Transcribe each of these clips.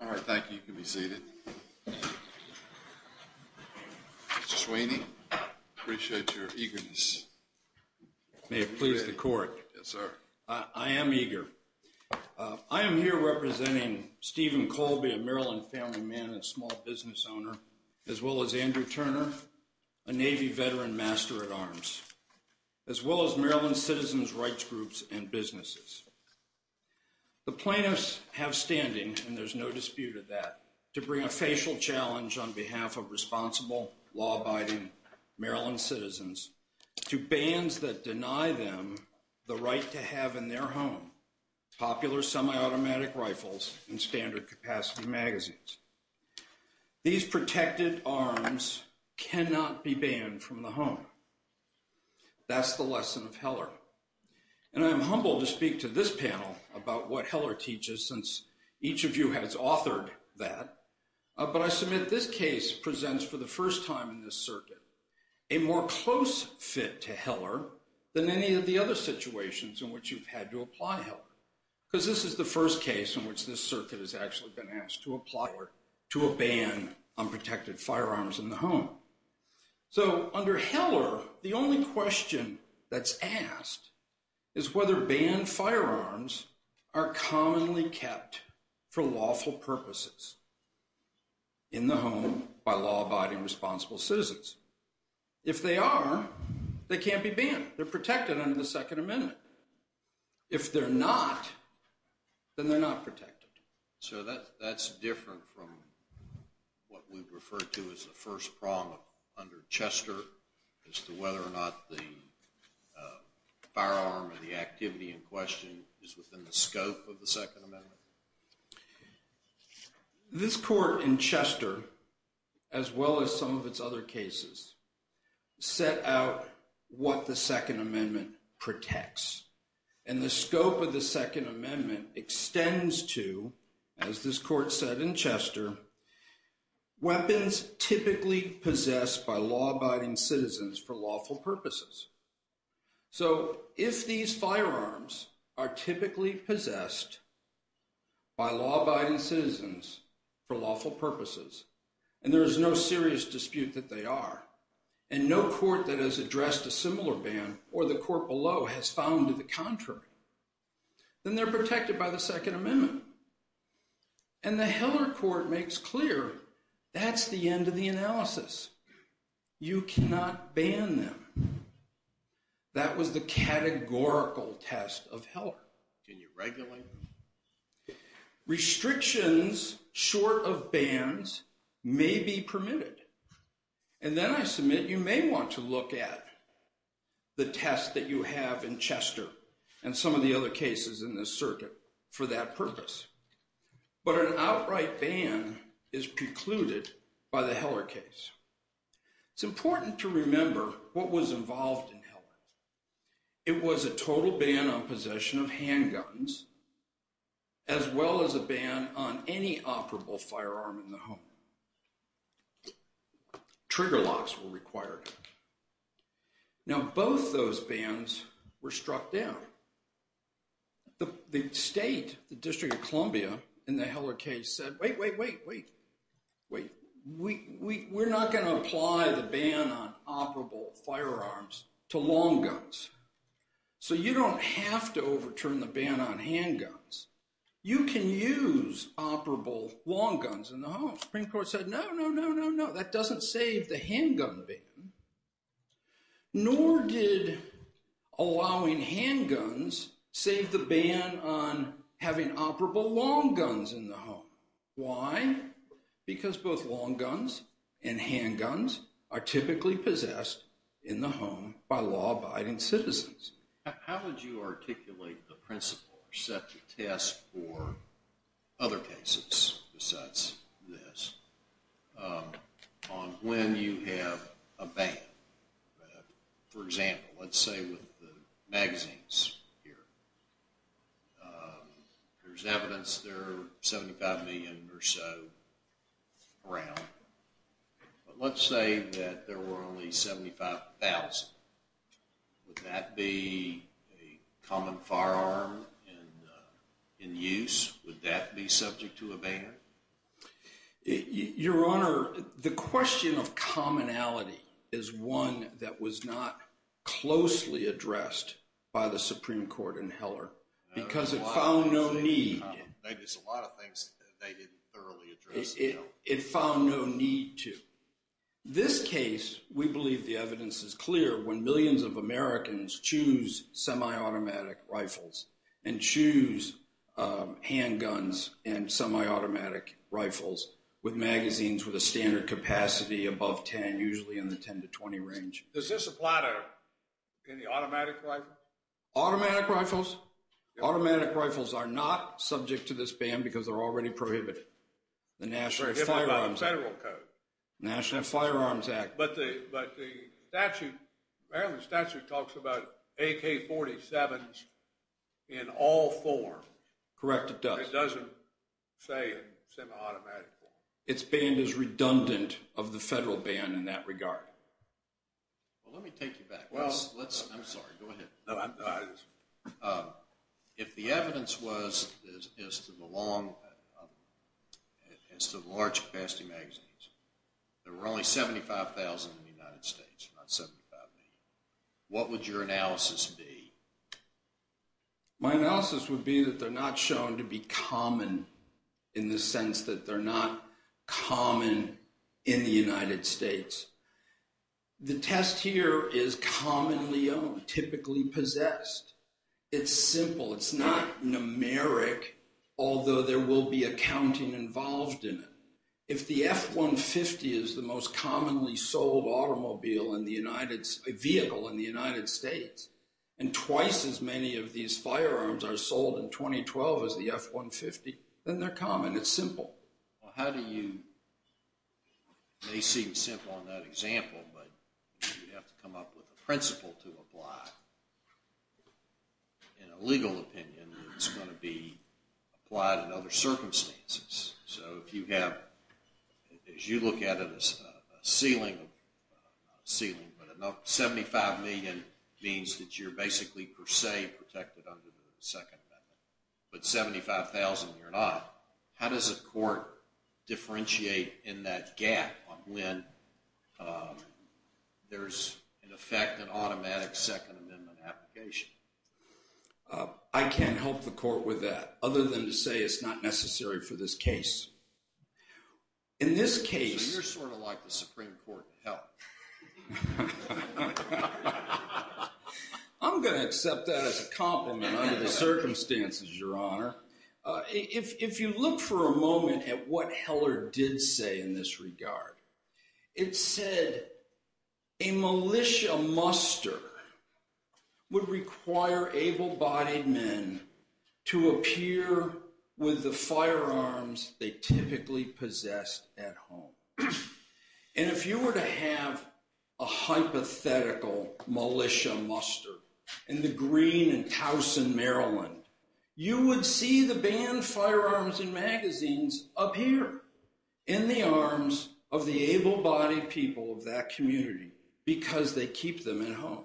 All right, thank you. You can be seated. Mr. Sweeney, I appreciate your eagerness. May it please the court. Yes, sir. I am eager. I am here representing Stephen Kolbe, a Maryland family man and small business owner, as well as Andrew Turner, a Navy veteran master-at-arms, as well as Maryland's citizens' rights groups and businesses. The plaintiffs have standing, and there's no dispute of that, to bring a facial challenge on behalf of responsible, law-abiding Maryland citizens to bans that deny them the right to have in their home popular semi-automatic rifles and standard-capacity magazines. These protected arms cannot be banned from the home. That's the lesson of Heller. And I am humbled to speak to this panel about what Heller teaches, since each of you has authored that. But I submit this case presents, for the first time in this circuit, a more close fit to Heller than any of the other situations in which you've had to apply Heller, because this is the first case in which this circuit has actually been asked to apply to a ban on protected firearms in the home. So under Heller, the only question that's asked is whether banned firearms are commonly kept for lawful purposes in the home by law-abiding, responsible citizens. If they are, they can't be banned. They're protected under the Second Amendment. If they're not, then they're not protected. So that's different from what we've referred to as the first prong under Chester as to whether or not the firearm or the activity in question is within the scope of the Second Amendment? This court in Chester, as well as some of its other cases, set out what the Second Amendment protects. And the scope of the Second Amendment extends to, as this court said in Chester, weapons typically possessed by law-abiding citizens for lawful purposes. So if these firearms are typically possessed by law-abiding citizens for lawful purposes, and there is no serious dispute that they are, and no court that has addressed a similar ban or the court below has found the contrary, then they're protected by the Second Amendment. And the Heller court makes clear that's the end of the analysis. You cannot ban them. That was the categorical test of Heller. Can you regulate them? Restrictions short of bans may be permitted. And then I submit you may want to look at the test that you have in Chester and some of the other cases in this circuit for that purpose. But an outright ban is precluded by the Heller case. It's important to remember what was involved in Heller. It was a total ban on possession of handguns, as well as a ban on any operable firearm in the home. Trigger locks were required. Now, both those bans were struck down. The state, the District of Columbia, in the Heller case said, wait, wait, wait, wait, wait. We're not going to apply the ban on operable firearms to long guns. So you don't have to overturn the ban on handguns. You can use operable long guns in the home. The Supreme Court said, no, no, no, no, no. That doesn't save the handgun ban. Nor did allowing handguns save the ban on having operable long guns in the home. Why? Because both long guns and handguns are typically possessed in the home by law-abiding citizens. How would you articulate the principle or set the test for other cases besides this on when you have a ban? For example, let's say with the magazines here. There's evidence there are 75 million or so around. But let's say that there were only 75,000. Would that be a common firearm in use? Would that be subject to a ban? Your Honor, the question of commonality is one that was not closely addressed by the Supreme Court in Heller because it found no need. There's a lot of things they didn't thoroughly address. It found no need to. This case, we believe the evidence is clear when millions of Americans choose semi-automatic rifles and choose handguns and semi-automatic rifles with magazines with a standard capacity above 10, usually in the 10 to 20 range. Does this apply to any automatic rifles? Automatic rifles? Automatic rifles are not subject to this ban because they're already prohibited. Prohibited by the federal code. National Firearms Act. But the statute, Maryland statute talks about AK-47s in all forms. Correct, it does. It doesn't say in semi-automatic form. Its ban is redundant of the federal ban in that regard. Well, let me take you back. I'm sorry, go ahead. No, I understand. If the evidence was as to the large capacity magazines, there were only 75,000 in the United States, not 75 million. What would your analysis be? My analysis would be that they're not shown to be common in the sense that they're not common in the United States. The test here is commonly owned, typically possessed. It's simple. It's not numeric, although there will be accounting involved in it. If the F-150 is the most commonly sold vehicle in the United States, and twice as many of these firearms are sold in 2012 as the F-150, then they're common. It's simple. Well, how do you, it may seem simple on that example, but you have to come up with a principle to apply. In a legal opinion, it's going to be applied in other circumstances. So if you have, as you look at it, a ceiling, 75 million means that you're basically per se protected under the second method. But 75,000, you're not. How does a court differentiate in that gap on when there's, in effect, an automatic Second Amendment application? I can't help the court with that, other than to say it's not necessary for this case. In this case... So you're sort of like the Supreme Court to help. I'm going to accept that as a compliment under the circumstances, Your Honor. If you look for a moment at what Heller did say in this regard, it said a militia muster would require able-bodied men to appear with the firearms they typically possessed at home. And if you were to have a hypothetical militia muster in the green in Towson, Maryland, you would see the banned firearms in magazines appear in the arms of the able-bodied people of that community because they keep them at home.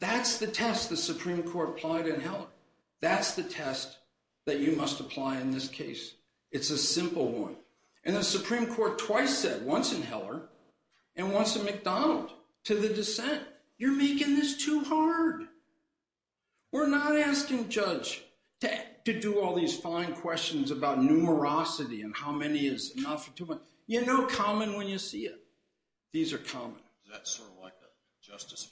That's the test the Supreme Court applied in Heller. That's the test that you must apply in this case. It's a simple one. And the Supreme Court twice said, once in Heller and once in McDonald, to the dissent, you're making this too hard. We're not asking Judge to do all these fine questions about numerosity and how many is enough. You know common when you see it. These are common. Is that sort of like the Justice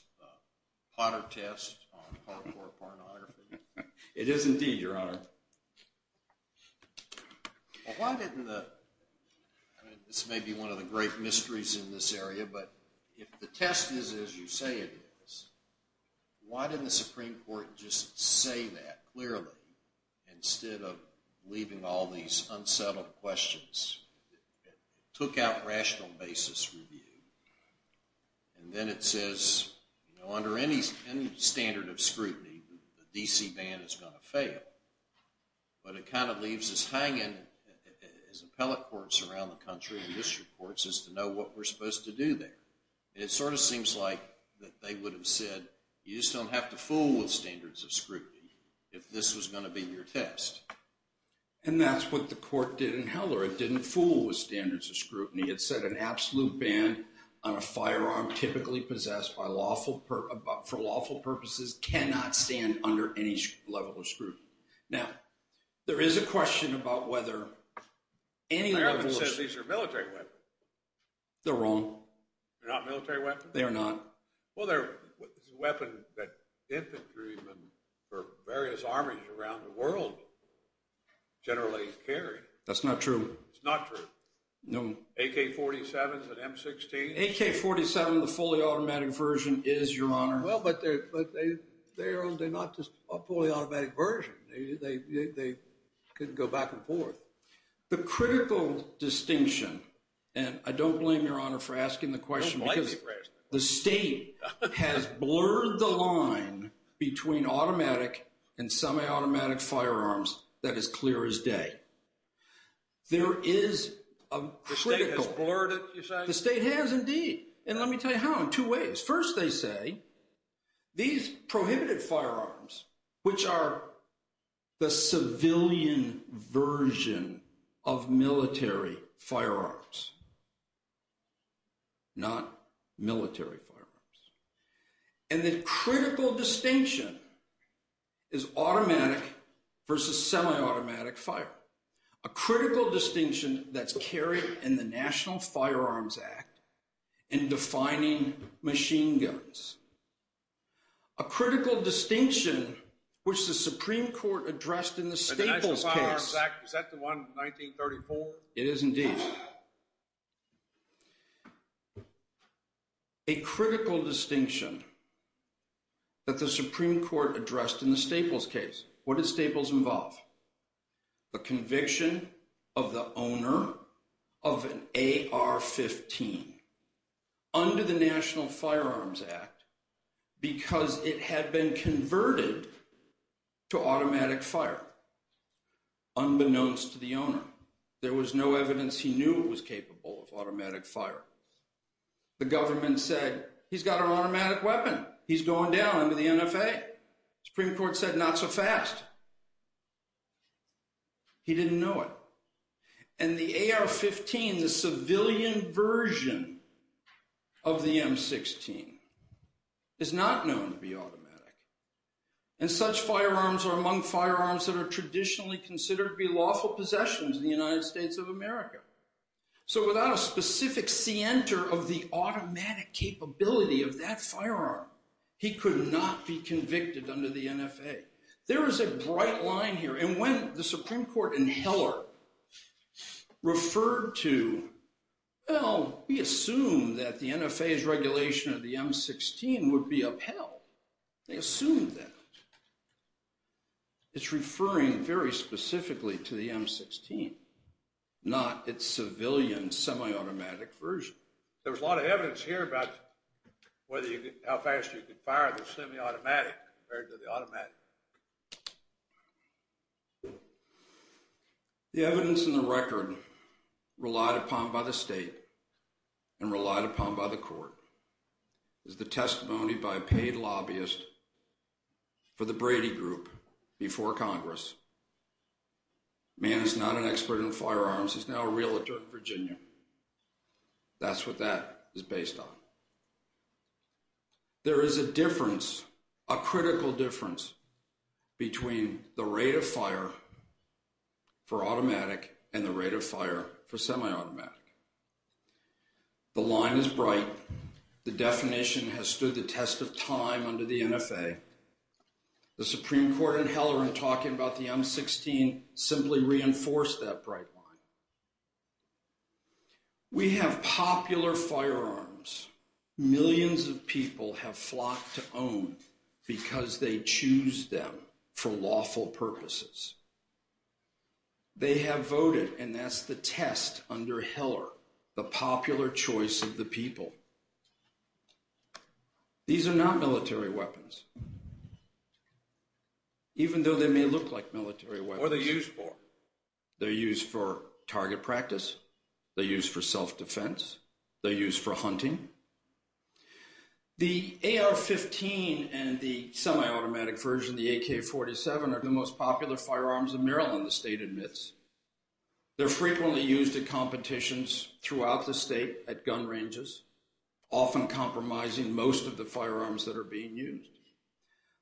Potter test on hardcore pornography? It is indeed, Your Honor. This may be one of the great mysteries in this area, but if the test is as you say it is, why didn't the Supreme Court just say that clearly instead of leaving all these unsettled questions? It took out rational basis review and then it says under any standard of scrutiny, the DC ban is going to fail. But it kind of leaves us hanging as appellate courts around the country and district courts as to know what we're supposed to do there. It sort of seems like they would have said, you just don't have to fool with standards of scrutiny if this was going to be your test. And that's what the court did in Heller. It didn't fool with standards of scrutiny. It said an absolute ban on a firearm typically possessed for lawful purposes cannot stand under any level of scrutiny. Now, there is a question about whether any level of scrutiny… They haven't said these are military weapons. They're wrong. They're not military weapons? They are not. Well, they're weapons that infantrymen for various armies around the world generally carry. That's not true. It's not true. No. AK-47s and M-16s. AK-47, the fully automatic version, is, Your Honor. Well, but they're not a fully automatic version. They can go back and forth. The critical distinction, and I don't blame Your Honor for asking the question because the state has blurred the line between automatic and semi-automatic firearms. That is clear as day. There is a critical… The state has blurred it, you're saying? The state has indeed. And let me tell you how, in two ways. First, they say these prohibited firearms, which are the civilian version of military firearms, not military firearms. And the critical distinction is automatic versus semi-automatic fire. A critical distinction that's carried in the National Firearms Act in defining machine guns. A critical distinction which the Supreme Court addressed in the Staples case. The National Firearms Act, is that the one, 1934? It is indeed. A critical distinction that the Supreme Court addressed in the Staples case. What did Staples involve? A conviction of the owner of an AR-15. Under the National Firearms Act, because it had been converted to automatic fire. Unbeknownst to the owner. There was no evidence he knew it was capable of automatic fire. The government said, he's got an automatic weapon. He's going down under the NFA. Supreme Court said, not so fast. He didn't know it. And the AR-15, the civilian version of the M16, is not known to be automatic. And such firearms are among firearms that are traditionally considered to be lawful possessions in the United States of America. So without a specific scienter of the automatic capability of that firearm, he could not be convicted under the NFA. There is a bright line here. And when the Supreme Court and Heller referred to, well, we assume that the NFA's regulation of the M16 would be upheld. They assumed that. It's referring very specifically to the M16, not its civilian semi-automatic version. There was a lot of evidence here about how fast you could fire the semi-automatic compared to the automatic. The evidence in the record relied upon by the state and relied upon by the court is the testimony by a paid lobbyist for the Brady Group before Congress. The man is not an expert in firearms. He's now a realtor in Virginia. That's what that is based on. There is a difference, a critical difference, between the rate of fire for automatic and the rate of fire for semi-automatic. The line is bright. The definition has stood the test of time under the NFA. The Supreme Court and Heller in talking about the M16 simply reinforced that bright line. We have popular firearms millions of people have flocked to own because they choose them for lawful purposes. They have voted, and that's the test under Heller, the popular choice of the people. These are not military weapons, even though they may look like military weapons. What are they used for? They're used for target practice. They're used for self-defense. They're used for hunting. The AR-15 and the semi-automatic version, the AK-47, are the most popular firearms in Maryland, the state admits. They're frequently used at competitions throughout the state at gun ranges, often compromising most of the firearms that are being used.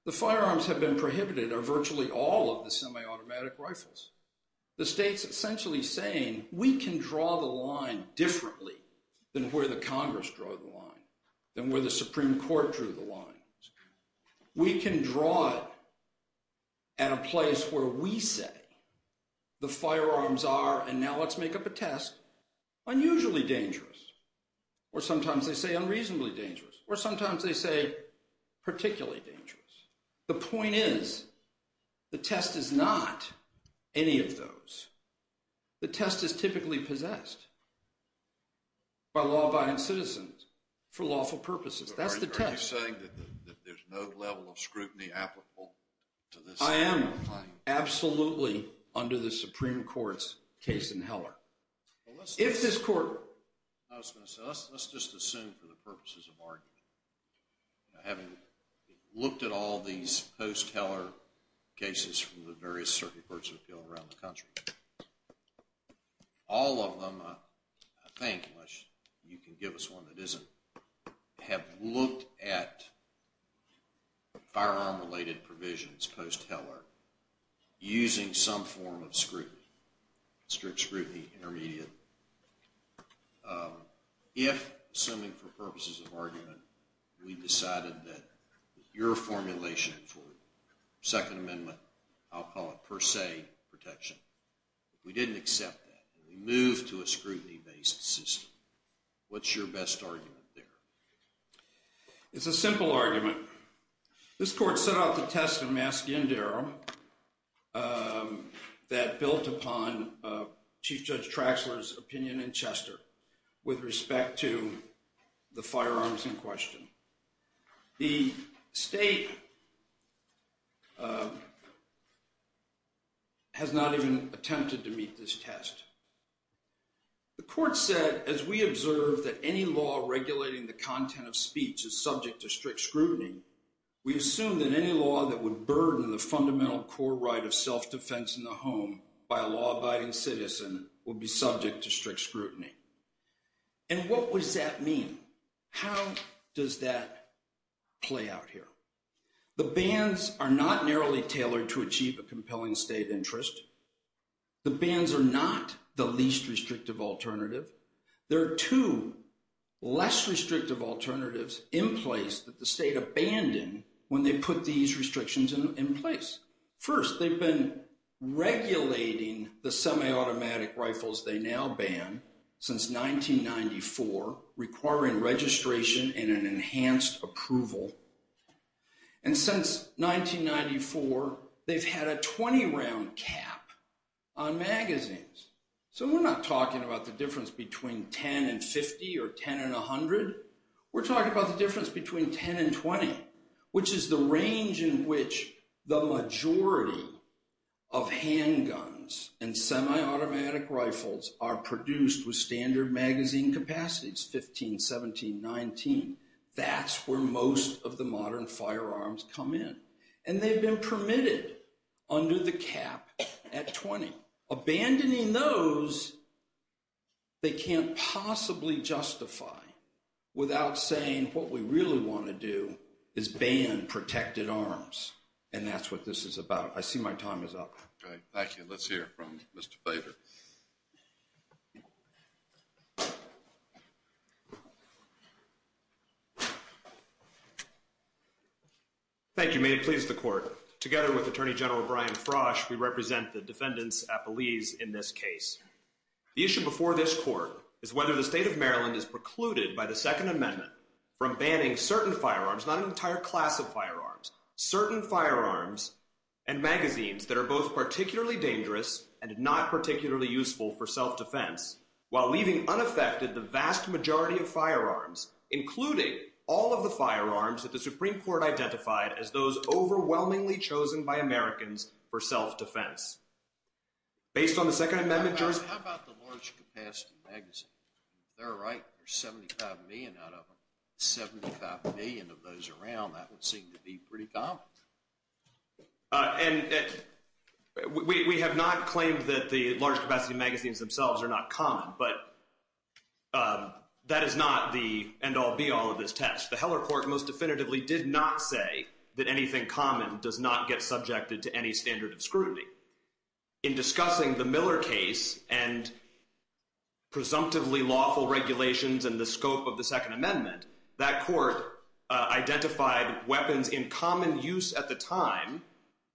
The firearms that have been prohibited are virtually all of the semi-automatic rifles. The state's essentially saying we can draw the line differently than where the Congress drew the line, than where the Supreme Court drew the line. We can draw it at a place where we say the firearms are, and now let's make up a test, unusually dangerous, or sometimes they say unreasonably dangerous, or sometimes they say particularly dangerous. The point is, the test is not any of those. The test is typically possessed by law-abiding citizens for lawful purposes. That's the test. Are you saying that there's no level of scrutiny applicable to this? I am, absolutely, under the Supreme Court's case in Heller. If this court— I was going to say, let's just assume for the purposes of argument. Having looked at all these post-Heller cases from the various circuit courts of appeal around the country, all of them, I think, unless you can give us one that isn't, have looked at firearm-related provisions post-Heller using some form of scrutiny, strict scrutiny, intermediate. If, assuming for purposes of argument, we decided that your formulation for Second Amendment, I'll call it per se, protection, if we didn't accept that and we moved to a scrutiny-based system, what's your best argument there? It's a simple argument. This court set out the test in Mascindaro that built upon Chief Judge Traxler's opinion in Chester with respect to the firearms in question. The state has not even attempted to meet this test. The court said, as we observe that any law regulating the content of speech is subject to strict scrutiny, we assume that any law that would burden the fundamental core right of self-defense in the home by a law-abiding citizen would be subject to strict scrutiny. And what does that mean? How does that play out here? The bans are not narrowly tailored to achieve a compelling state interest. The bans are not the least restrictive alternative. There are two less restrictive alternatives in place that the state abandoned when they put these restrictions in place. First, they've been regulating the semi-automatic rifles they now ban since 1994, requiring registration and an enhanced approval. And since 1994, they've had a 20-round cap on magazines. So we're not talking about the difference between 10 and 50 or 10 and 100. We're talking about the difference between 10 and 20, which is the range in which the majority of handguns and semi-automatic rifles are produced with standard magazine capacities, 15, 17, 19. That's where most of the modern firearms come in. And they've been permitted under the cap at 20. Abandoning those, they can't possibly justify without saying, what we really want to do is ban protected arms. And that's what this is about. I see my time is up. Okay, thank you. Let's hear from Mr. Bader. Thank you. May it please the Court, together with Attorney General Brian Frosch, we represent the defendants' appellees in this case. The issue before this Court is whether the state of Maryland is precluded by the Second Amendment from banning certain firearms, not an entire class of firearms, certain firearms and magazines that are both particularly dangerous and not particularly useful for self-defense, while leaving unaffected the vast majority of firearms, including all of the firearms that the Supreme Court identified as those overwhelmingly chosen by Americans for self-defense. Based on the Second Amendment jurisdiction... How about the large capacity magazine? If they're right, there's 75 million out of them. 75 million of those around, that would seem to be pretty common. And we have not claimed that the large capacity magazines themselves are not common, but that is not the end-all, be-all of this test. The Heller Court most definitively did not say that anything common does not get subjected to any standard of scrutiny. In discussing the Miller case and presumptively lawful regulations and the scope of the Second Amendment, that court identified weapons in common use at the time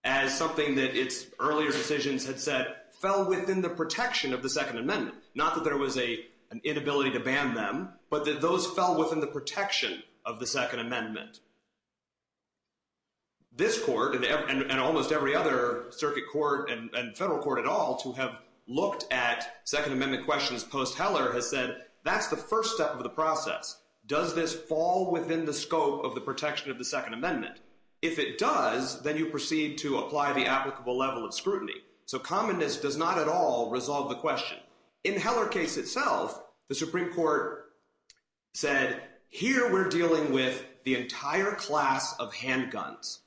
as something that its earlier decisions had said fell within the protection of the Second Amendment. Not that there was an inability to ban them, but that those fell within the protection of the Second Amendment. This court and almost every other circuit court and federal court at all to have looked at Second Amendment questions post-Heller has said that's the first step of the process. Does this fall within the scope of the protection of the Second Amendment? If it does, then you proceed to apply the applicable level of scrutiny. So commonness does not at all resolve the question. In the Heller case itself, the Supreme Court said, here we're dealing with the entire class of handguns,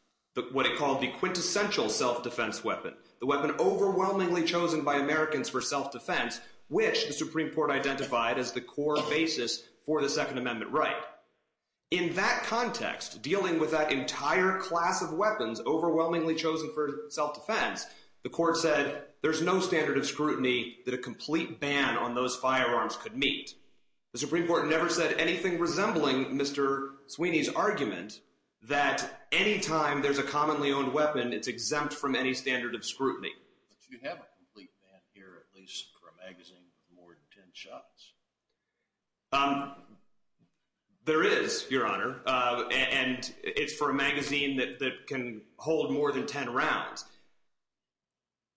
what it called the quintessential self-defense weapon, the weapon overwhelmingly chosen by Americans for self-defense, which the Supreme Court identified as the core basis for the Second Amendment right. In that context, dealing with that entire class of weapons overwhelmingly chosen for self-defense, the court said there's no standard of scrutiny that a complete ban on those firearms could meet. The Supreme Court never said anything resembling Mr. Sweeney's argument that any time there's a commonly owned weapon, it's exempt from any standard of scrutiny. But you have a complete ban here, at least for a magazine with more than 10 shots. There is, Your Honor. And it's for a magazine that can hold more than 10 rounds.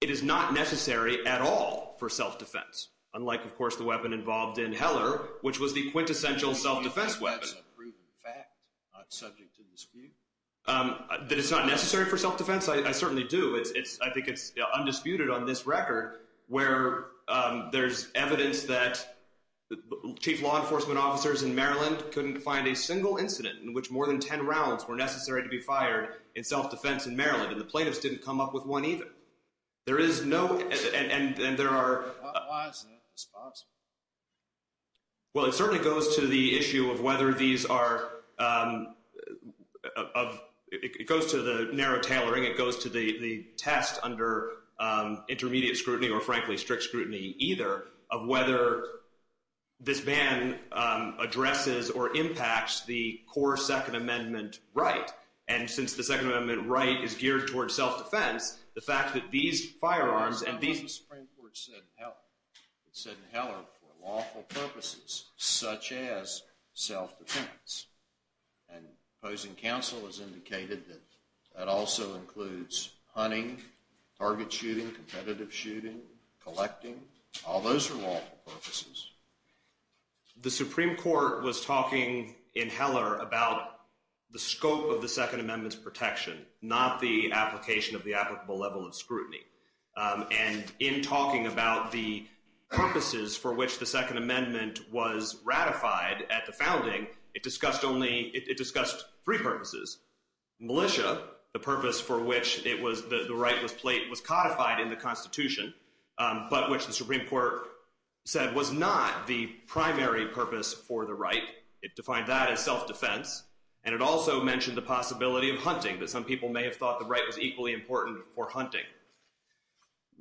It is not necessary at all for self-defense, unlike, of course, the weapon involved in Heller, which was the quintessential self-defense weapon. That's a proven fact, not subject to dispute. That it's not necessary for self-defense? I certainly do. I think it's undisputed on this record where there's evidence that chief law enforcement officers in Maryland couldn't find a single incident in which more than 10 rounds were necessary to be fired in self-defense in Maryland, and the plaintiffs didn't come up with one either. There is no—and there are— Why isn't it responsible? Well, it certainly goes to the issue of whether these are— it goes to the narrow tailoring. It goes to the test under intermediate scrutiny or, frankly, strict scrutiny either, of whether this ban addresses or impacts the core Second Amendment right. And since the Second Amendment right is geared toward self-defense, the fact that these firearms and these— That's not what the Supreme Court said in Heller. It said in Heller, for lawful purposes such as self-defense. And opposing counsel has indicated that that also includes hunting, target shooting, competitive shooting, collecting. All those are lawful purposes. The Supreme Court was talking in Heller about the scope of the Second Amendment's protection, not the application of the applicable level of scrutiny. And in talking about the purposes for which the Second Amendment was ratified at the founding, it discussed only—it discussed three purposes. Militia, the purpose for which it was—the right was codified in the Constitution, but which the Supreme Court said was not the primary purpose for the right. It defined that as self-defense. And it also mentioned the possibility of hunting, that some people may have thought the right was equally important for hunting.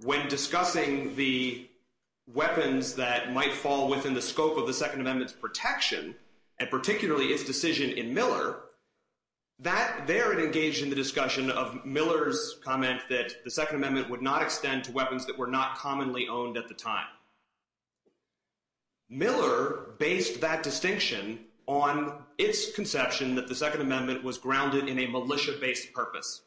When discussing the weapons that might fall within the scope of the Second Amendment's protection, and particularly its decision in Miller, there it engaged in the discussion of Miller's comment that the Second Amendment would not extend to weapons that were not commonly owned at the time. Miller based that distinction on its conception that the Second Amendment was grounded in a militia-based purpose.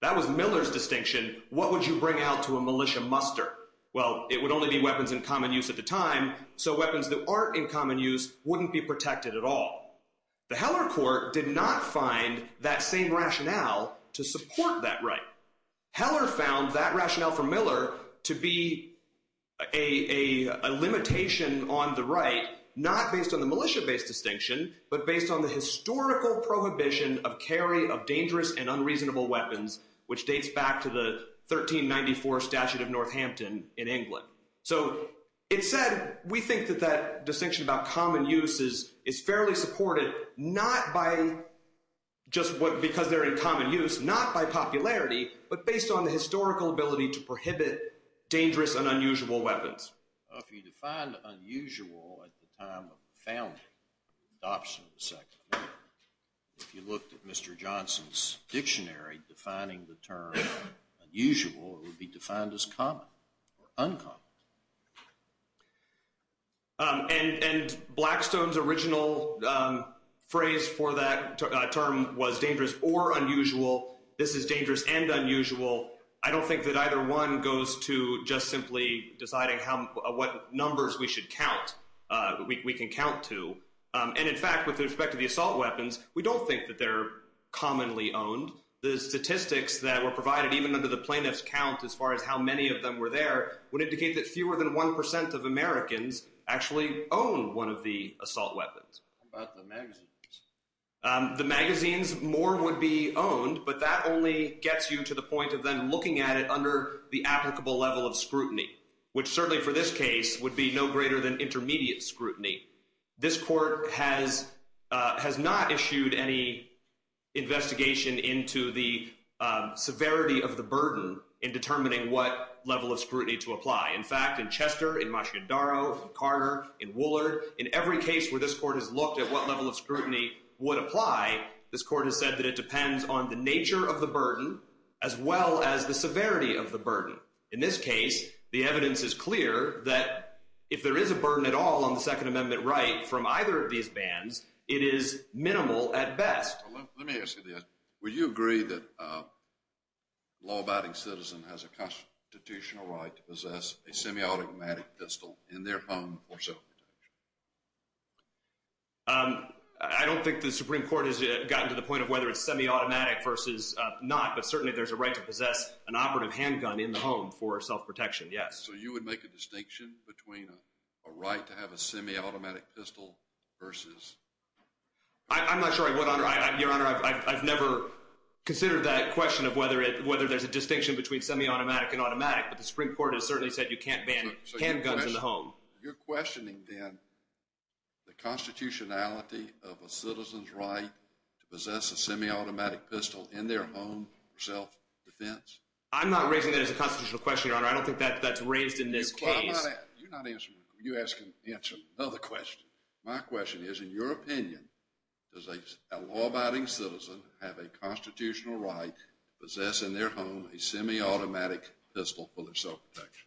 That was Miller's distinction. What would you bring out to a militia muster? Well, it would only be weapons in common use at the time, so weapons that aren't in common use wouldn't be protected at all. The Heller Court did not find that same rationale to support that right. Heller found that rationale for Miller to be a limitation on the right, not based on the militia-based distinction, but based on the historical prohibition of carry of dangerous and unreasonable weapons, which dates back to the 1394 Statute of Northampton in England. So it said we think that that distinction about common use is fairly supported, not by just because they're in common use, not by popularity, but based on the historical ability to prohibit dangerous and unusual weapons. If you defined unusual at the time of the founding, adoption of the Second Amendment, if you looked at Mr. Johnson's dictionary defining the term unusual, it would be defined as common or uncommon. And Blackstone's original phrase for that term was dangerous or unusual. This is dangerous and unusual. I don't think that either one goes to just simply deciding what numbers we should count, we can count to. And in fact, with respect to the assault weapons, we don't think that they're commonly owned. The statistics that were provided even under the plaintiff's count as far as how many of them were there would indicate that fewer than 1% of Americans actually own one of the assault weapons. How about the magazines? The magazines, more would be owned, but that only gets you to the point of then looking at it under the applicable level of scrutiny, which certainly for this case would be no greater than intermediate scrutiny. This court has not issued any investigation into the severity of the burden in determining what level of scrutiny to apply. In fact, in Chester, in Machidaro, in Carter, in Woolard, in every case where this court has looked at what level of scrutiny would apply, this court has said that it depends on the nature of the burden as well as the severity of the burden. In this case, the evidence is clear that if there is a burden at all on the Second Amendment right from either of these bands, it is minimal at best. Let me ask you this. Would you agree that a law-abiding citizen has a constitutional right to possess a semi-automatic pistol in their home for self-protection? I don't think the Supreme Court has gotten to the point of whether it's semi-automatic versus not, but certainly there's a right to possess an operative handgun in the home for self-protection, yes. So you would make a distinction between a right to have a semi-automatic pistol versus… I'm not sure I would, Your Honor. I've never considered that question of whether there's a distinction between semi-automatic and automatic, but the Supreme Court has certainly said you can't ban handguns in the home. So you're questioning then the constitutionality of a citizen's right to possess a semi-automatic pistol in their home for self-defense? I'm not raising that as a constitutional question, Your Honor. I don't think that's raised in this case. You're not answering my question. You're asking another question. My question is, in your opinion, does a law-abiding citizen have a constitutional right to possess in their home a semi-automatic pistol for their self-protection?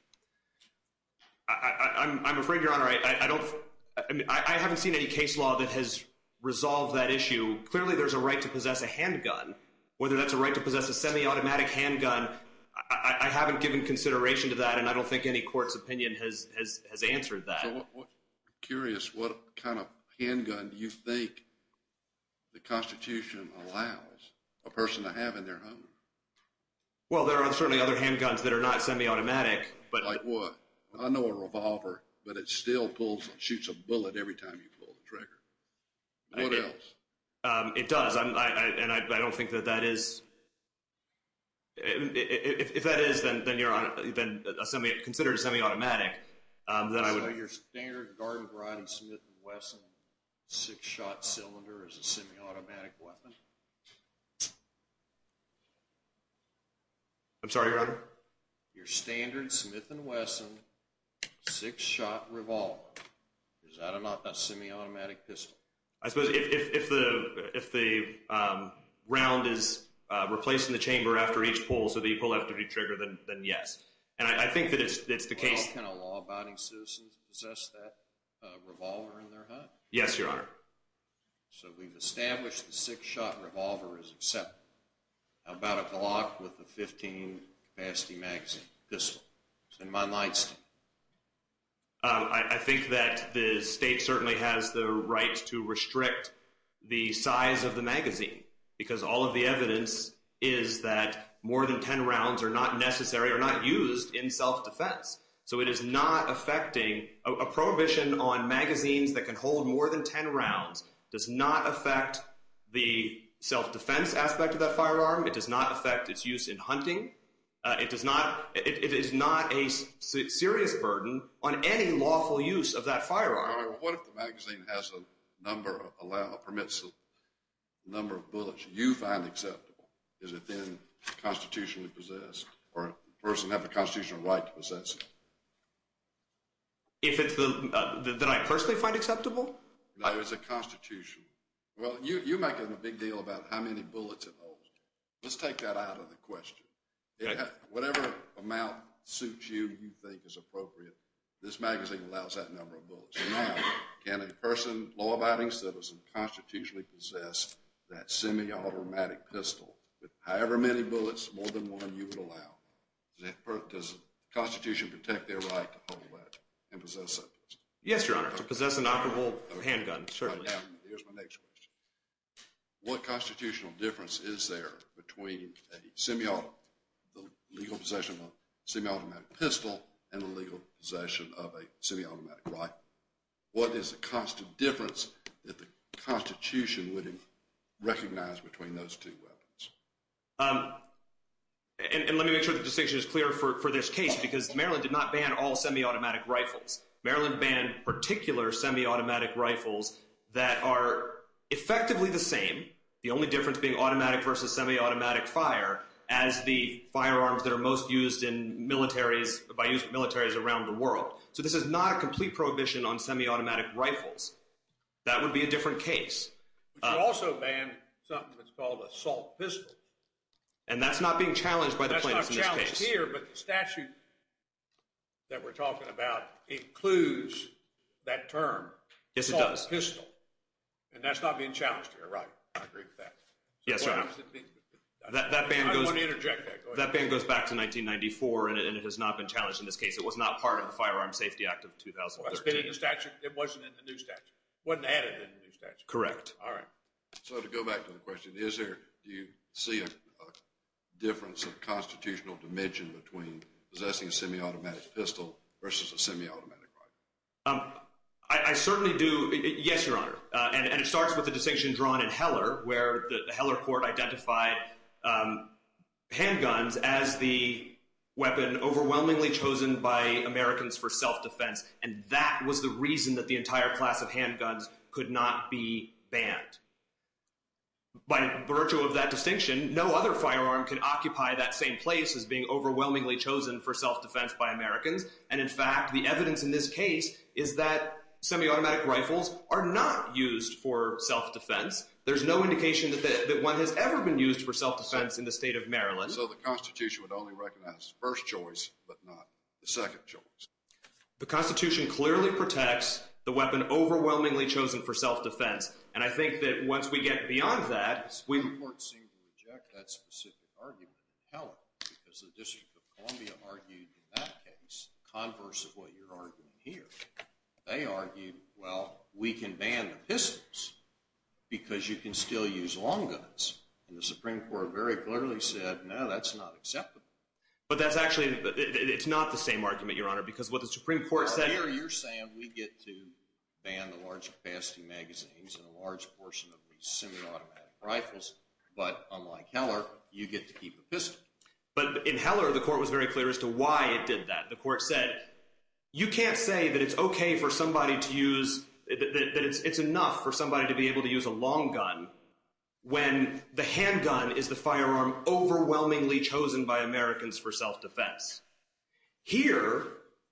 I'm afraid, Your Honor, I haven't seen any case law that has resolved that issue. Clearly, there's a right to possess a handgun. Whether that's a right to possess a semi-automatic handgun, I haven't given consideration to that, and I don't think any court's opinion has answered that. So I'm curious, what kind of handgun do you think the Constitution allows a person to have in their home? Well, there are certainly other handguns that are not semi-automatic. Like what? I know a revolver, but it still pulls and shoots a bullet every time you pull the trigger. What else? It does, and I don't think that that is – if that is, then you're considered semi-automatic. So your standard Garden-Bride Smith & Wesson six-shot cylinder is a semi-automatic weapon? I'm sorry, Your Honor? Your standard Smith & Wesson six-shot revolver, is that a semi-automatic pistol? I suppose if the round is replaced in the chamber after each pull, so that you pull after you trigger, then yes. And I think that it's the case. Can a law-abiding citizen possess that revolver in their home? Yes, Your Honor. So we've established the six-shot revolver is acceptable. How about a Glock with a 15-capacity magazine pistol? In my light state. I think that the state certainly has the right to restrict the size of the magazine, because all of the evidence is that more than 10 rounds are not necessary or not used in self-defense. So it is not affecting – a prohibition on magazines that can hold more than 10 rounds does not affect the self-defense aspect of that firearm. It does not affect its use in hunting. It is not a serious burden on any lawful use of that firearm. What if the magazine has a number of – permits a number of bullets you find acceptable? Is it then constitutionally possessed or does the person have the constitutional right to possess it? If it's the – that I personally find acceptable? No, it's a constitution. Well, you make a big deal about how many bullets it holds. Let's take that out of the question. Whatever amount suits you, you think is appropriate, this magazine allows that number of bullets. Now, can a person, law-abiding citizen, constitutionally possess that semi-automatic pistol with however many bullets, more than one, you would allow? Does the Constitution protect their right to hold that and possess that pistol? Yes, Your Honor, to possess an operable handgun, certainly. Here's my next question. What constitutional difference is there between a semi-automatic – and a legal possession of a semi-automatic rifle? What is the constant difference that the Constitution would recognize between those two weapons? And let me make sure the distinction is clear for this case because Maryland did not ban all semi-automatic rifles. Maryland banned particular semi-automatic rifles that are effectively the same, the only difference being automatic versus semi-automatic fire, as the firearms that are most used by militaries around the world. So this is not a complete prohibition on semi-automatic rifles. That would be a different case. But you also banned something that's called a salt pistol. And that's not being challenged by the plaintiffs in this case. That's not challenged here, but the statute that we're talking about includes that term, salt pistol. Yes, it does. And that's not being challenged here, right? I agree with that. Yes, Your Honor. I want to interject that. Go ahead. That ban goes back to 1994, and it has not been challenged in this case. It was not part of the Firearm Safety Act of 2013. It wasn't in the new statute. It wasn't added in the new statute. Correct. All right. So to go back to the question, is there – do you see a difference of constitutional dimension between possessing a semi-automatic pistol versus a semi-automatic rifle? I certainly do. Yes, Your Honor. And it starts with the distinction drawn in Heller, where the Heller court identified handguns as the weapon overwhelmingly chosen by Americans for self-defense. And that was the reason that the entire class of handguns could not be banned. By virtue of that distinction, no other firearm could occupy that same place as being overwhelmingly chosen for self-defense by Americans. And, in fact, the evidence in this case is that semi-automatic rifles are not used for self-defense. There's no indication that one has ever been used for self-defense in the state of Maryland. So the Constitution would only recognize the first choice but not the second choice. The Constitution clearly protects the weapon overwhelmingly chosen for self-defense. And I think that once we get beyond that, we – The Supreme Court seemed to reject that specific argument in Heller because the District of Columbia argued in that case converse of what you're arguing here. They argued, well, we can ban the pistols because you can still use long guns. And the Supreme Court very clearly said, no, that's not acceptable. But that's actually – it's not the same argument, Your Honor, because what the Supreme Court said – But unlike Heller, you get to keep the pistol. But in Heller, the court was very clear as to why it did that. The court said, you can't say that it's okay for somebody to use – that it's enough for somebody to be able to use a long gun when the handgun is the firearm overwhelmingly chosen by Americans for self-defense. Here,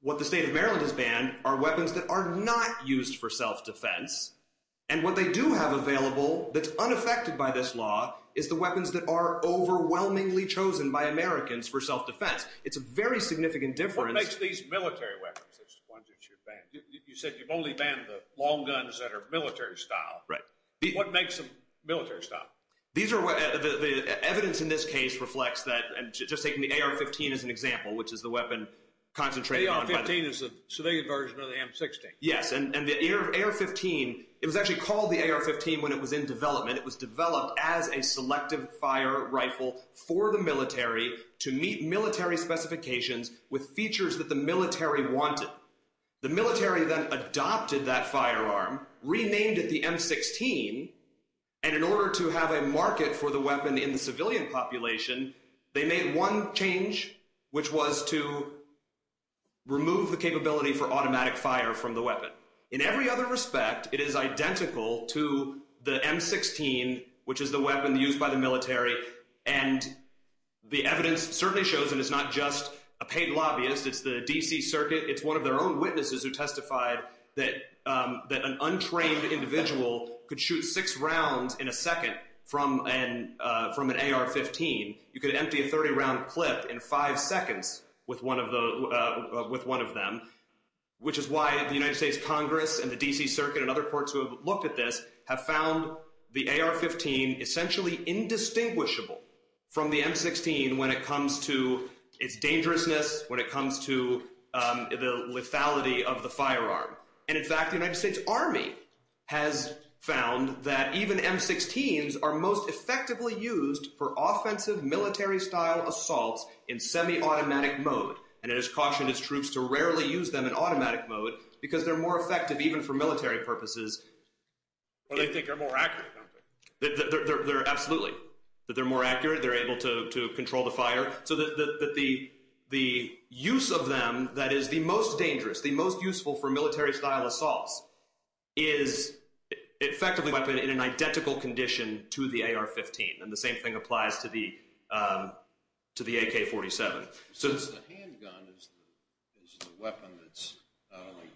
what the state of Maryland has banned are weapons that are not used for self-defense. And what they do have available that's unaffected by this law is the weapons that are overwhelmingly chosen by Americans for self-defense. It's a very significant difference. What makes these military weapons the ones that you've banned? You said you've only banned the long guns that are military style. Right. What makes them military style? These are – the evidence in this case reflects that – and just taking the AR-15 as an example, which is the weapon concentrated on – The AR-15 is a civilian version of the M16. Yes, and the AR-15 – it was actually called the AR-15 when it was in development. It was developed as a selective fire rifle for the military to meet military specifications with features that the military wanted. The military then adopted that firearm, renamed it the M16, and in order to have a market for the weapon in the civilian population, they made one change, which was to remove the capability for automatic fire from the weapon. In every other respect, it is identical to the M16, which is the weapon used by the military, and the evidence certainly shows that it's not just a paid lobbyist. It's the D.C. Circuit. It's one of their own witnesses who testified that an untrained individual could shoot six rounds in a second from an AR-15. You could empty a 30-round clip in five seconds with one of them, which is why the United States Congress and the D.C. Circuit and other courts who have looked at this have found the AR-15 essentially indistinguishable from the M16 when it comes to its dangerousness, when it comes to the lethality of the firearm. And in fact, the United States Army has found that even M16s are most effectively used for offensive military-style assaults in semi-automatic mode, and it has cautioned its troops to rarely use them in automatic mode because they're more effective even for military purposes. Well, they think they're more accurate, don't they? Absolutely, that they're more accurate, they're able to control the fire, so that the use of them that is the most dangerous, the most useful for military-style assaults, is effectively a weapon in an identical condition to the AR-15, and the same thing applies to the AK-47. The handgun is the weapon that's not only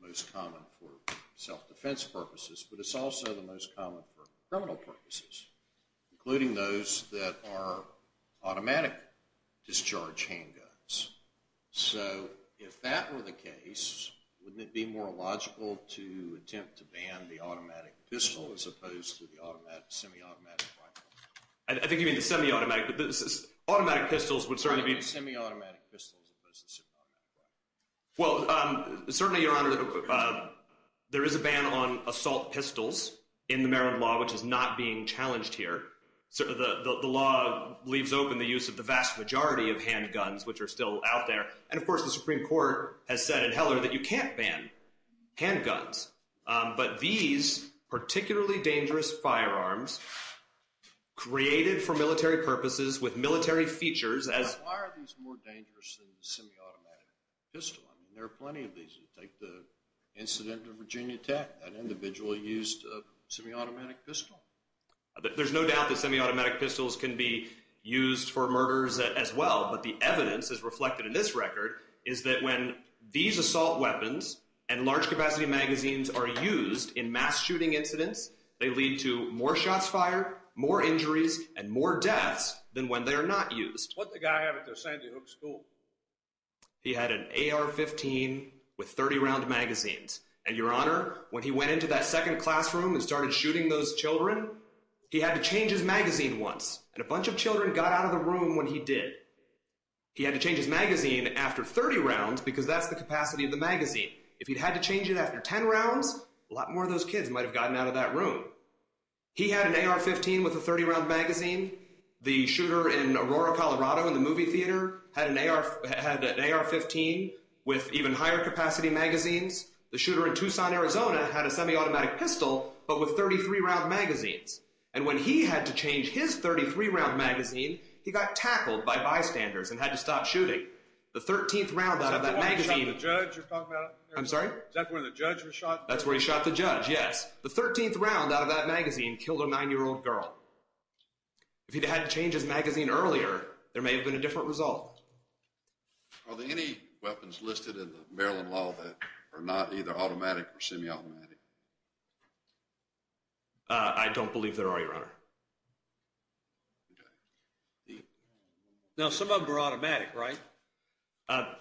most common for self-defense purposes, but it's also the most common for criminal purposes, including those that are automatic discharge handguns. So if that were the case, wouldn't it be more logical to attempt to ban the automatic pistol as opposed to the semi-automatic rifle? I think you mean the semi-automatic. Automatic pistols would certainly be... I mean the semi-automatic pistol as opposed to the semi-automatic rifle. Well, certainly, Your Honor, there is a ban on assault pistols in the Maryland law, which is not being challenged here. The law leaves open the use of the vast majority of handguns, which are still out there. And, of course, the Supreme Court has said in Heller that you can't ban handguns. But these particularly dangerous firearms, created for military purposes with military features as... Why are these more dangerous than the semi-automatic pistol? I mean, there are plenty of these. Take the incident of Virginia Tech. That individual used a semi-automatic pistol. There's no doubt that semi-automatic pistols can be used for murders as well. But the evidence, as reflected in this record, is that when these assault weapons and large-capacity magazines are used in mass shooting incidents, they lead to more shots fired, more injuries, and more deaths than when they are not used. What did the guy have at the Sandy Hook School? He had an AR-15 with 30-round magazines. And, Your Honor, when he went into that second classroom and started shooting those children, he had to change his magazine once. And a bunch of children got out of the room when he did. He had to change his magazine after 30 rounds because that's the capacity of the magazine. If he'd had to change it after 10 rounds, a lot more of those kids might have gotten out of that room. He had an AR-15 with a 30-round magazine. The shooter in Aurora, Colorado, in the movie theater had an AR-15 with even higher-capacity magazines. The shooter in Tucson, Arizona, had a semi-automatic pistol but with 33-round magazines. And when he had to change his 33-round magazine, he got tackled by bystanders and had to stop shooting. The 13th round out of that magazine... Is that the one where the judge was shot? That's where he shot the judge, yes. The 13th round out of that magazine killed a 9-year-old girl. If he'd had to change his magazine earlier, there may have been a different result. Are there any weapons listed in the Maryland law that are not either automatic or semi-automatic? I don't believe there are, Your Honor. Now, some of them are automatic, right?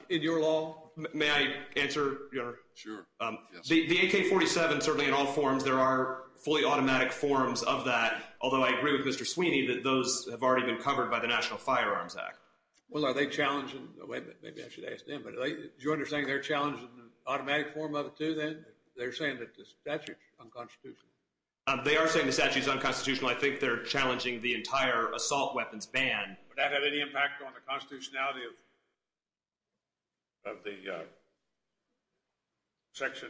In your law? May I answer, Your Honor? Sure. The AK-47, certainly in all forms, there are fully automatic forms of that, although I agree with Mr. Sweeney that those have already been covered by the National Firearms Act. Well, are they challenging? Maybe I should ask them, but do you understand they're challenging the automatic form of it, too, then? They're saying that the statute's unconstitutional. They are saying the statute's unconstitutional. I think they're challenging the entire assault weapons ban. Would that have any impact on the constitutionality of the Section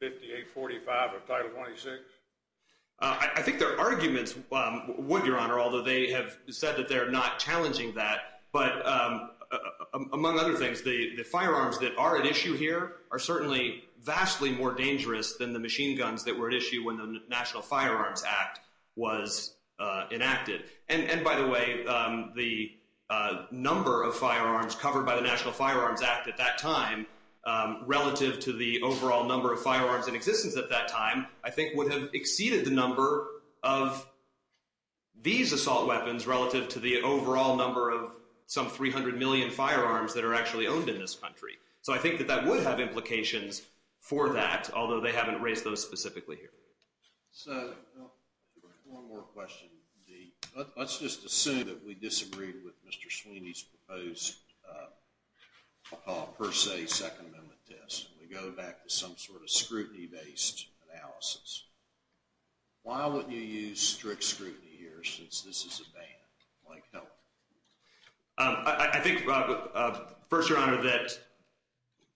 5845 of Title 26? I think there are arguments, would, Your Honor, although they have said that they're not challenging that. But among other things, the firearms that are at issue here are certainly vastly more dangerous than the machine guns that were at issue when the National Firearms Act was enacted. And, by the way, the number of firearms covered by the National Firearms Act at that time, relative to the overall number of firearms in existence at that time, I think would have exceeded the number of these assault weapons relative to the overall number of some 300 million firearms that are actually owned in this country. So I think that that would have implications for that, although they haven't raised those specifically here. So one more question. Let's just assume that we disagree with Mr. Sweeney's proposed, per se, Second Amendment test. We go back to some sort of scrutiny-based analysis. Why wouldn't you use strict scrutiny here, since this is a ban? I'd like help. I think, first, Your Honor, that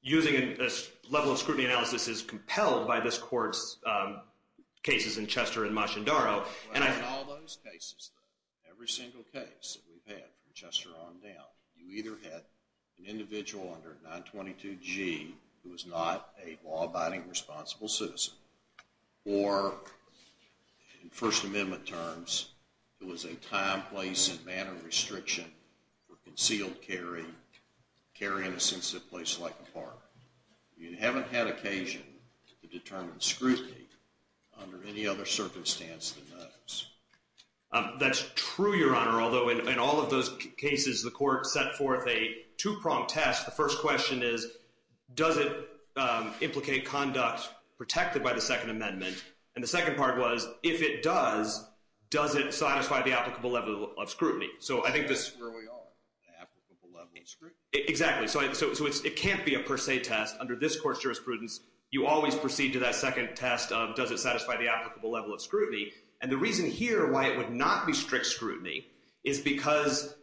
using a level of scrutiny analysis is compelled by this Court's cases in Chester and Machindaro. Well, in all those cases, though, every single case that we've had from Chester on down, you either had an individual under 922G who was not a law-abiding, responsible citizen, or, in First Amendment terms, it was a time, place, and manner restriction for concealed carry, carry in a sensitive place like a park. You haven't had occasion to determine scrutiny under any other circumstance than those. That's true, Your Honor, although in all of those cases, the Court set forth a two-prong test. The first question is, does it implicate conduct protected by the Second Amendment? And the second part was, if it does, does it satisfy the applicable level of scrutiny? So I think this— That's where we are, the applicable level of scrutiny. Exactly. So it can't be a per se test. Under this Court's jurisprudence, you always proceed to that second test of, does it satisfy the applicable level of scrutiny? And the reason here why it would not be strict scrutiny is because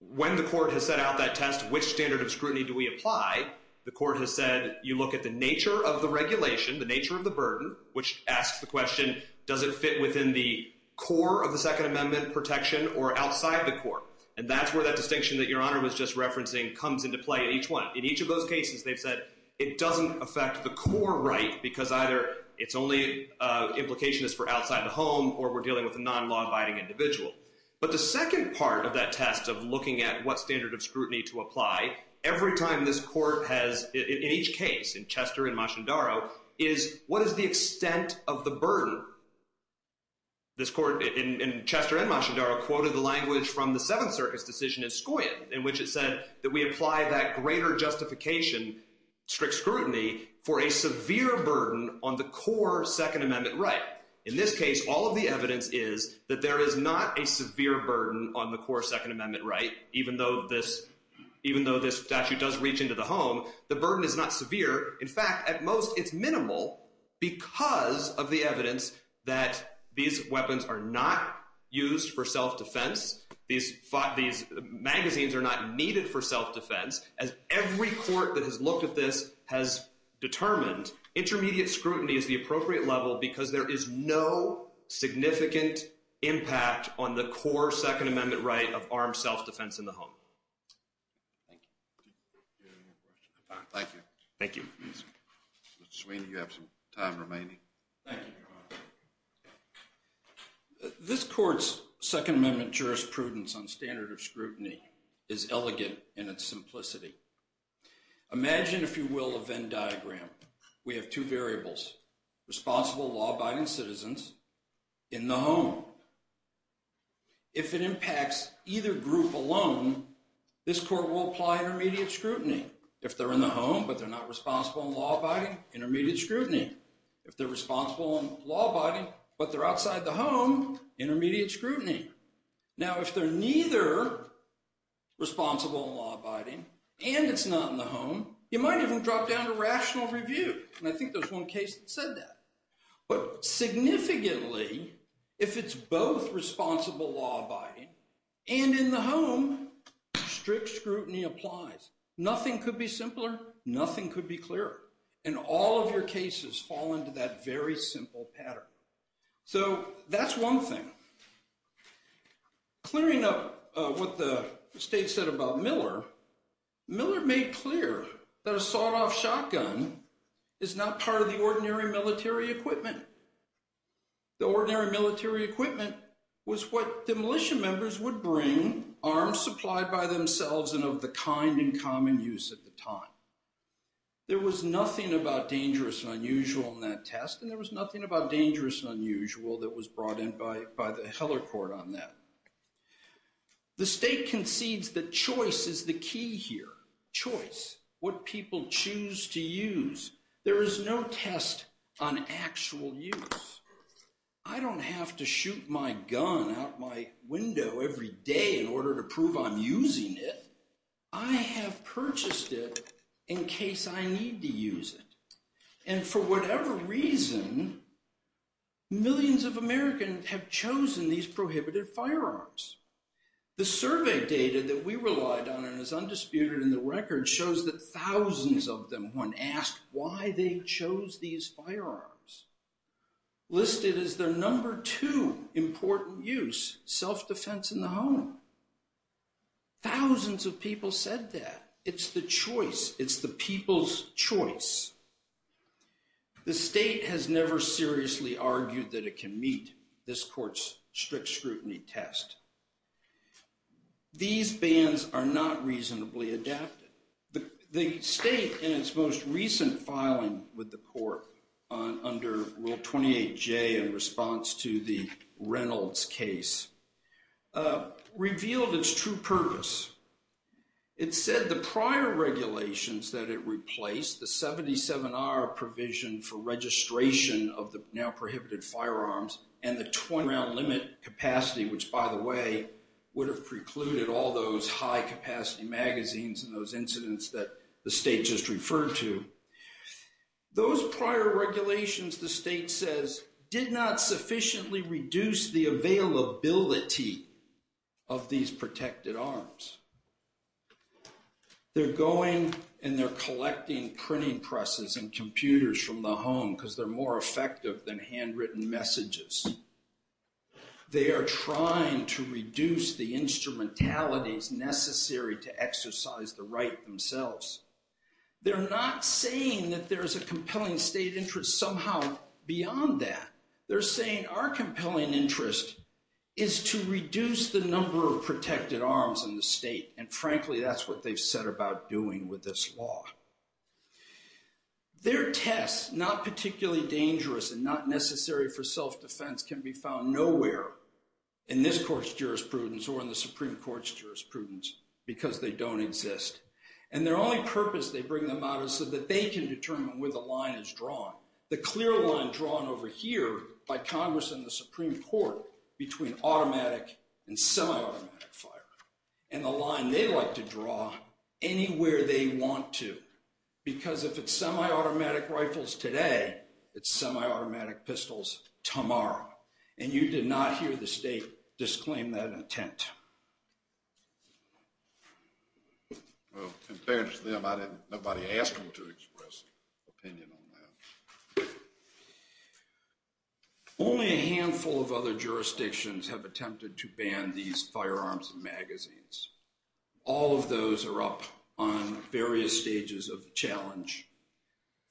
when the Court has set out that test, which standard of scrutiny do we apply? The Court has said you look at the nature of the regulation, the nature of the burden, which asks the question, does it fit within the core of the Second Amendment protection or outside the core? And that's where that distinction that Your Honor was just referencing comes into play in each one. In each of those cases, they've said it doesn't affect the core right because either its only implication is for outside the home or we're dealing with a non-law-abiding individual. But the second part of that test of looking at what standard of scrutiny to apply, every time this Court has, in each case, in Chester and Machindaro, is what is the extent of the burden? This Court, in Chester and Machindaro, quoted the language from the Seventh Circus decision in Scoia in which it said that we apply that greater justification, strict scrutiny, for a severe burden on the core Second Amendment right. In this case, all of the evidence is that there is not a severe burden on the core Second Amendment right, even though this statute does reach into the home. The burden is not severe. In fact, at most, it's minimal because of the evidence that these weapons are not used for self-defense. These magazines are not needed for self-defense. As every Court that has looked at this has determined, intermediate scrutiny is the appropriate level because there is no significant impact on the core Second Amendment right of armed self-defense in the home. Thank you. Thank you. Thank you. Mr. Sweeney, you have some time remaining. Thank you, Your Honor. This Court's Second Amendment jurisprudence on standard of scrutiny is elegant in its simplicity. Imagine, if you will, a Venn diagram. We have two variables, responsible, law-abiding citizens in the home. If it impacts either group alone, this Court will apply intermediate scrutiny. If they're in the home but they're not responsible and law-abiding, intermediate scrutiny. If they're responsible and law-abiding but they're outside the home, intermediate scrutiny. Now, if they're neither responsible and law-abiding and it's not in the home, you might even drop down to rational review. And I think there's one case that said that. But significantly, if it's both responsible, law-abiding, and in the home, strict scrutiny applies. Nothing could be simpler. Nothing could be clearer. And all of your cases fall into that very simple pattern. So that's one thing. Clearing up what the State said about Miller, Miller made clear that a sawed-off shotgun is not part of the ordinary military equipment. The ordinary military equipment was what demolition members would bring, arms supplied by themselves and of the kind and common use at the time. There was nothing about dangerous and unusual in that test. And there was nothing about dangerous and unusual that was brought in by the Heller Court on that. The State concedes that choice is the key here. Choice, what people choose to use. There is no test on actual use. I don't have to shoot my gun out my window every day in order to prove I'm using it. I have purchased it in case I need to use it. And for whatever reason, millions of Americans have chosen these prohibited firearms. The survey data that we relied on and is undisputed in the record shows that thousands of them, when asked why they chose these firearms, listed as their number two important use, self-defense in the home. Thousands of people said that. It's the choice. It's the people's choice. The State has never seriously argued that it can meet this Court's strict scrutiny test. These bans are not reasonably adapted. The State, in its most recent filing with the Court under Rule 28J in response to the Reynolds case, revealed its true purpose. It said the prior regulations that it replaced, the 77-hour provision for registration of the now prohibited firearms and the 20-hour limit capacity, which, by the way, would have precluded all those high-capacity magazines and those incidents that the State just referred to, those prior regulations, the State says, did not sufficiently reduce the availability of these protected arms. They're going and they're collecting printing presses and computers from the home because they're more effective than handwritten messages. They are trying to reduce the instrumentalities necessary to exercise the right themselves. They're not saying that there's a compelling State interest somehow beyond that. They're saying our compelling interest is to reduce the number of protected arms in the State, and frankly, that's what they've set about doing with this law. Their tests, not particularly dangerous and not necessary for self-defense, can be found nowhere in this Court's jurisprudence or in the Supreme Court's jurisprudence because they don't exist. And their only purpose they bring them out is so that they can determine where the line is drawn, the clear line drawn over here by Congress and the Supreme Court between automatic and semi-automatic fire and the line they like to draw anywhere they want to. Because if it's semi-automatic rifles today, it's semi-automatic pistols tomorrow. And you did not hear the State disclaim that intent. Well, compared to them, nobody asked them to express an opinion on that. Only a handful of other jurisdictions have attempted to ban these firearms and magazines. All of those are up on various stages of challenge.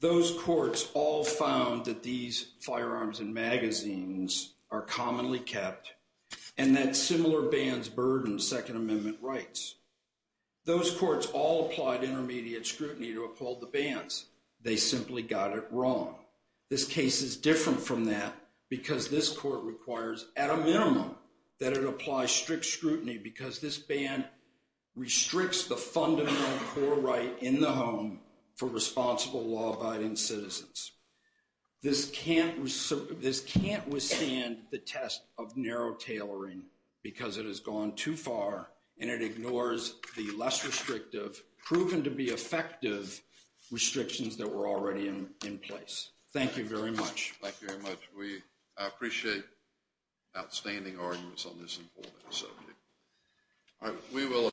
Those courts all found that these firearms and magazines are commonly kept and that similar bans burden Second Amendment rights. Those courts all applied intermediate scrutiny to uphold the bans. They simply got it wrong. This case is different from that because this court requires, at a minimum, that it apply strict scrutiny because this ban restricts the fundamental core right in the home for responsible law-abiding citizens. This can't withstand the test of narrow tailoring because it has gone too far and it ignores the less restrictive, proven-to-be-effective restrictions that were already in place. Thank you very much. Thank you very much. We appreciate outstanding arguments on this important subject.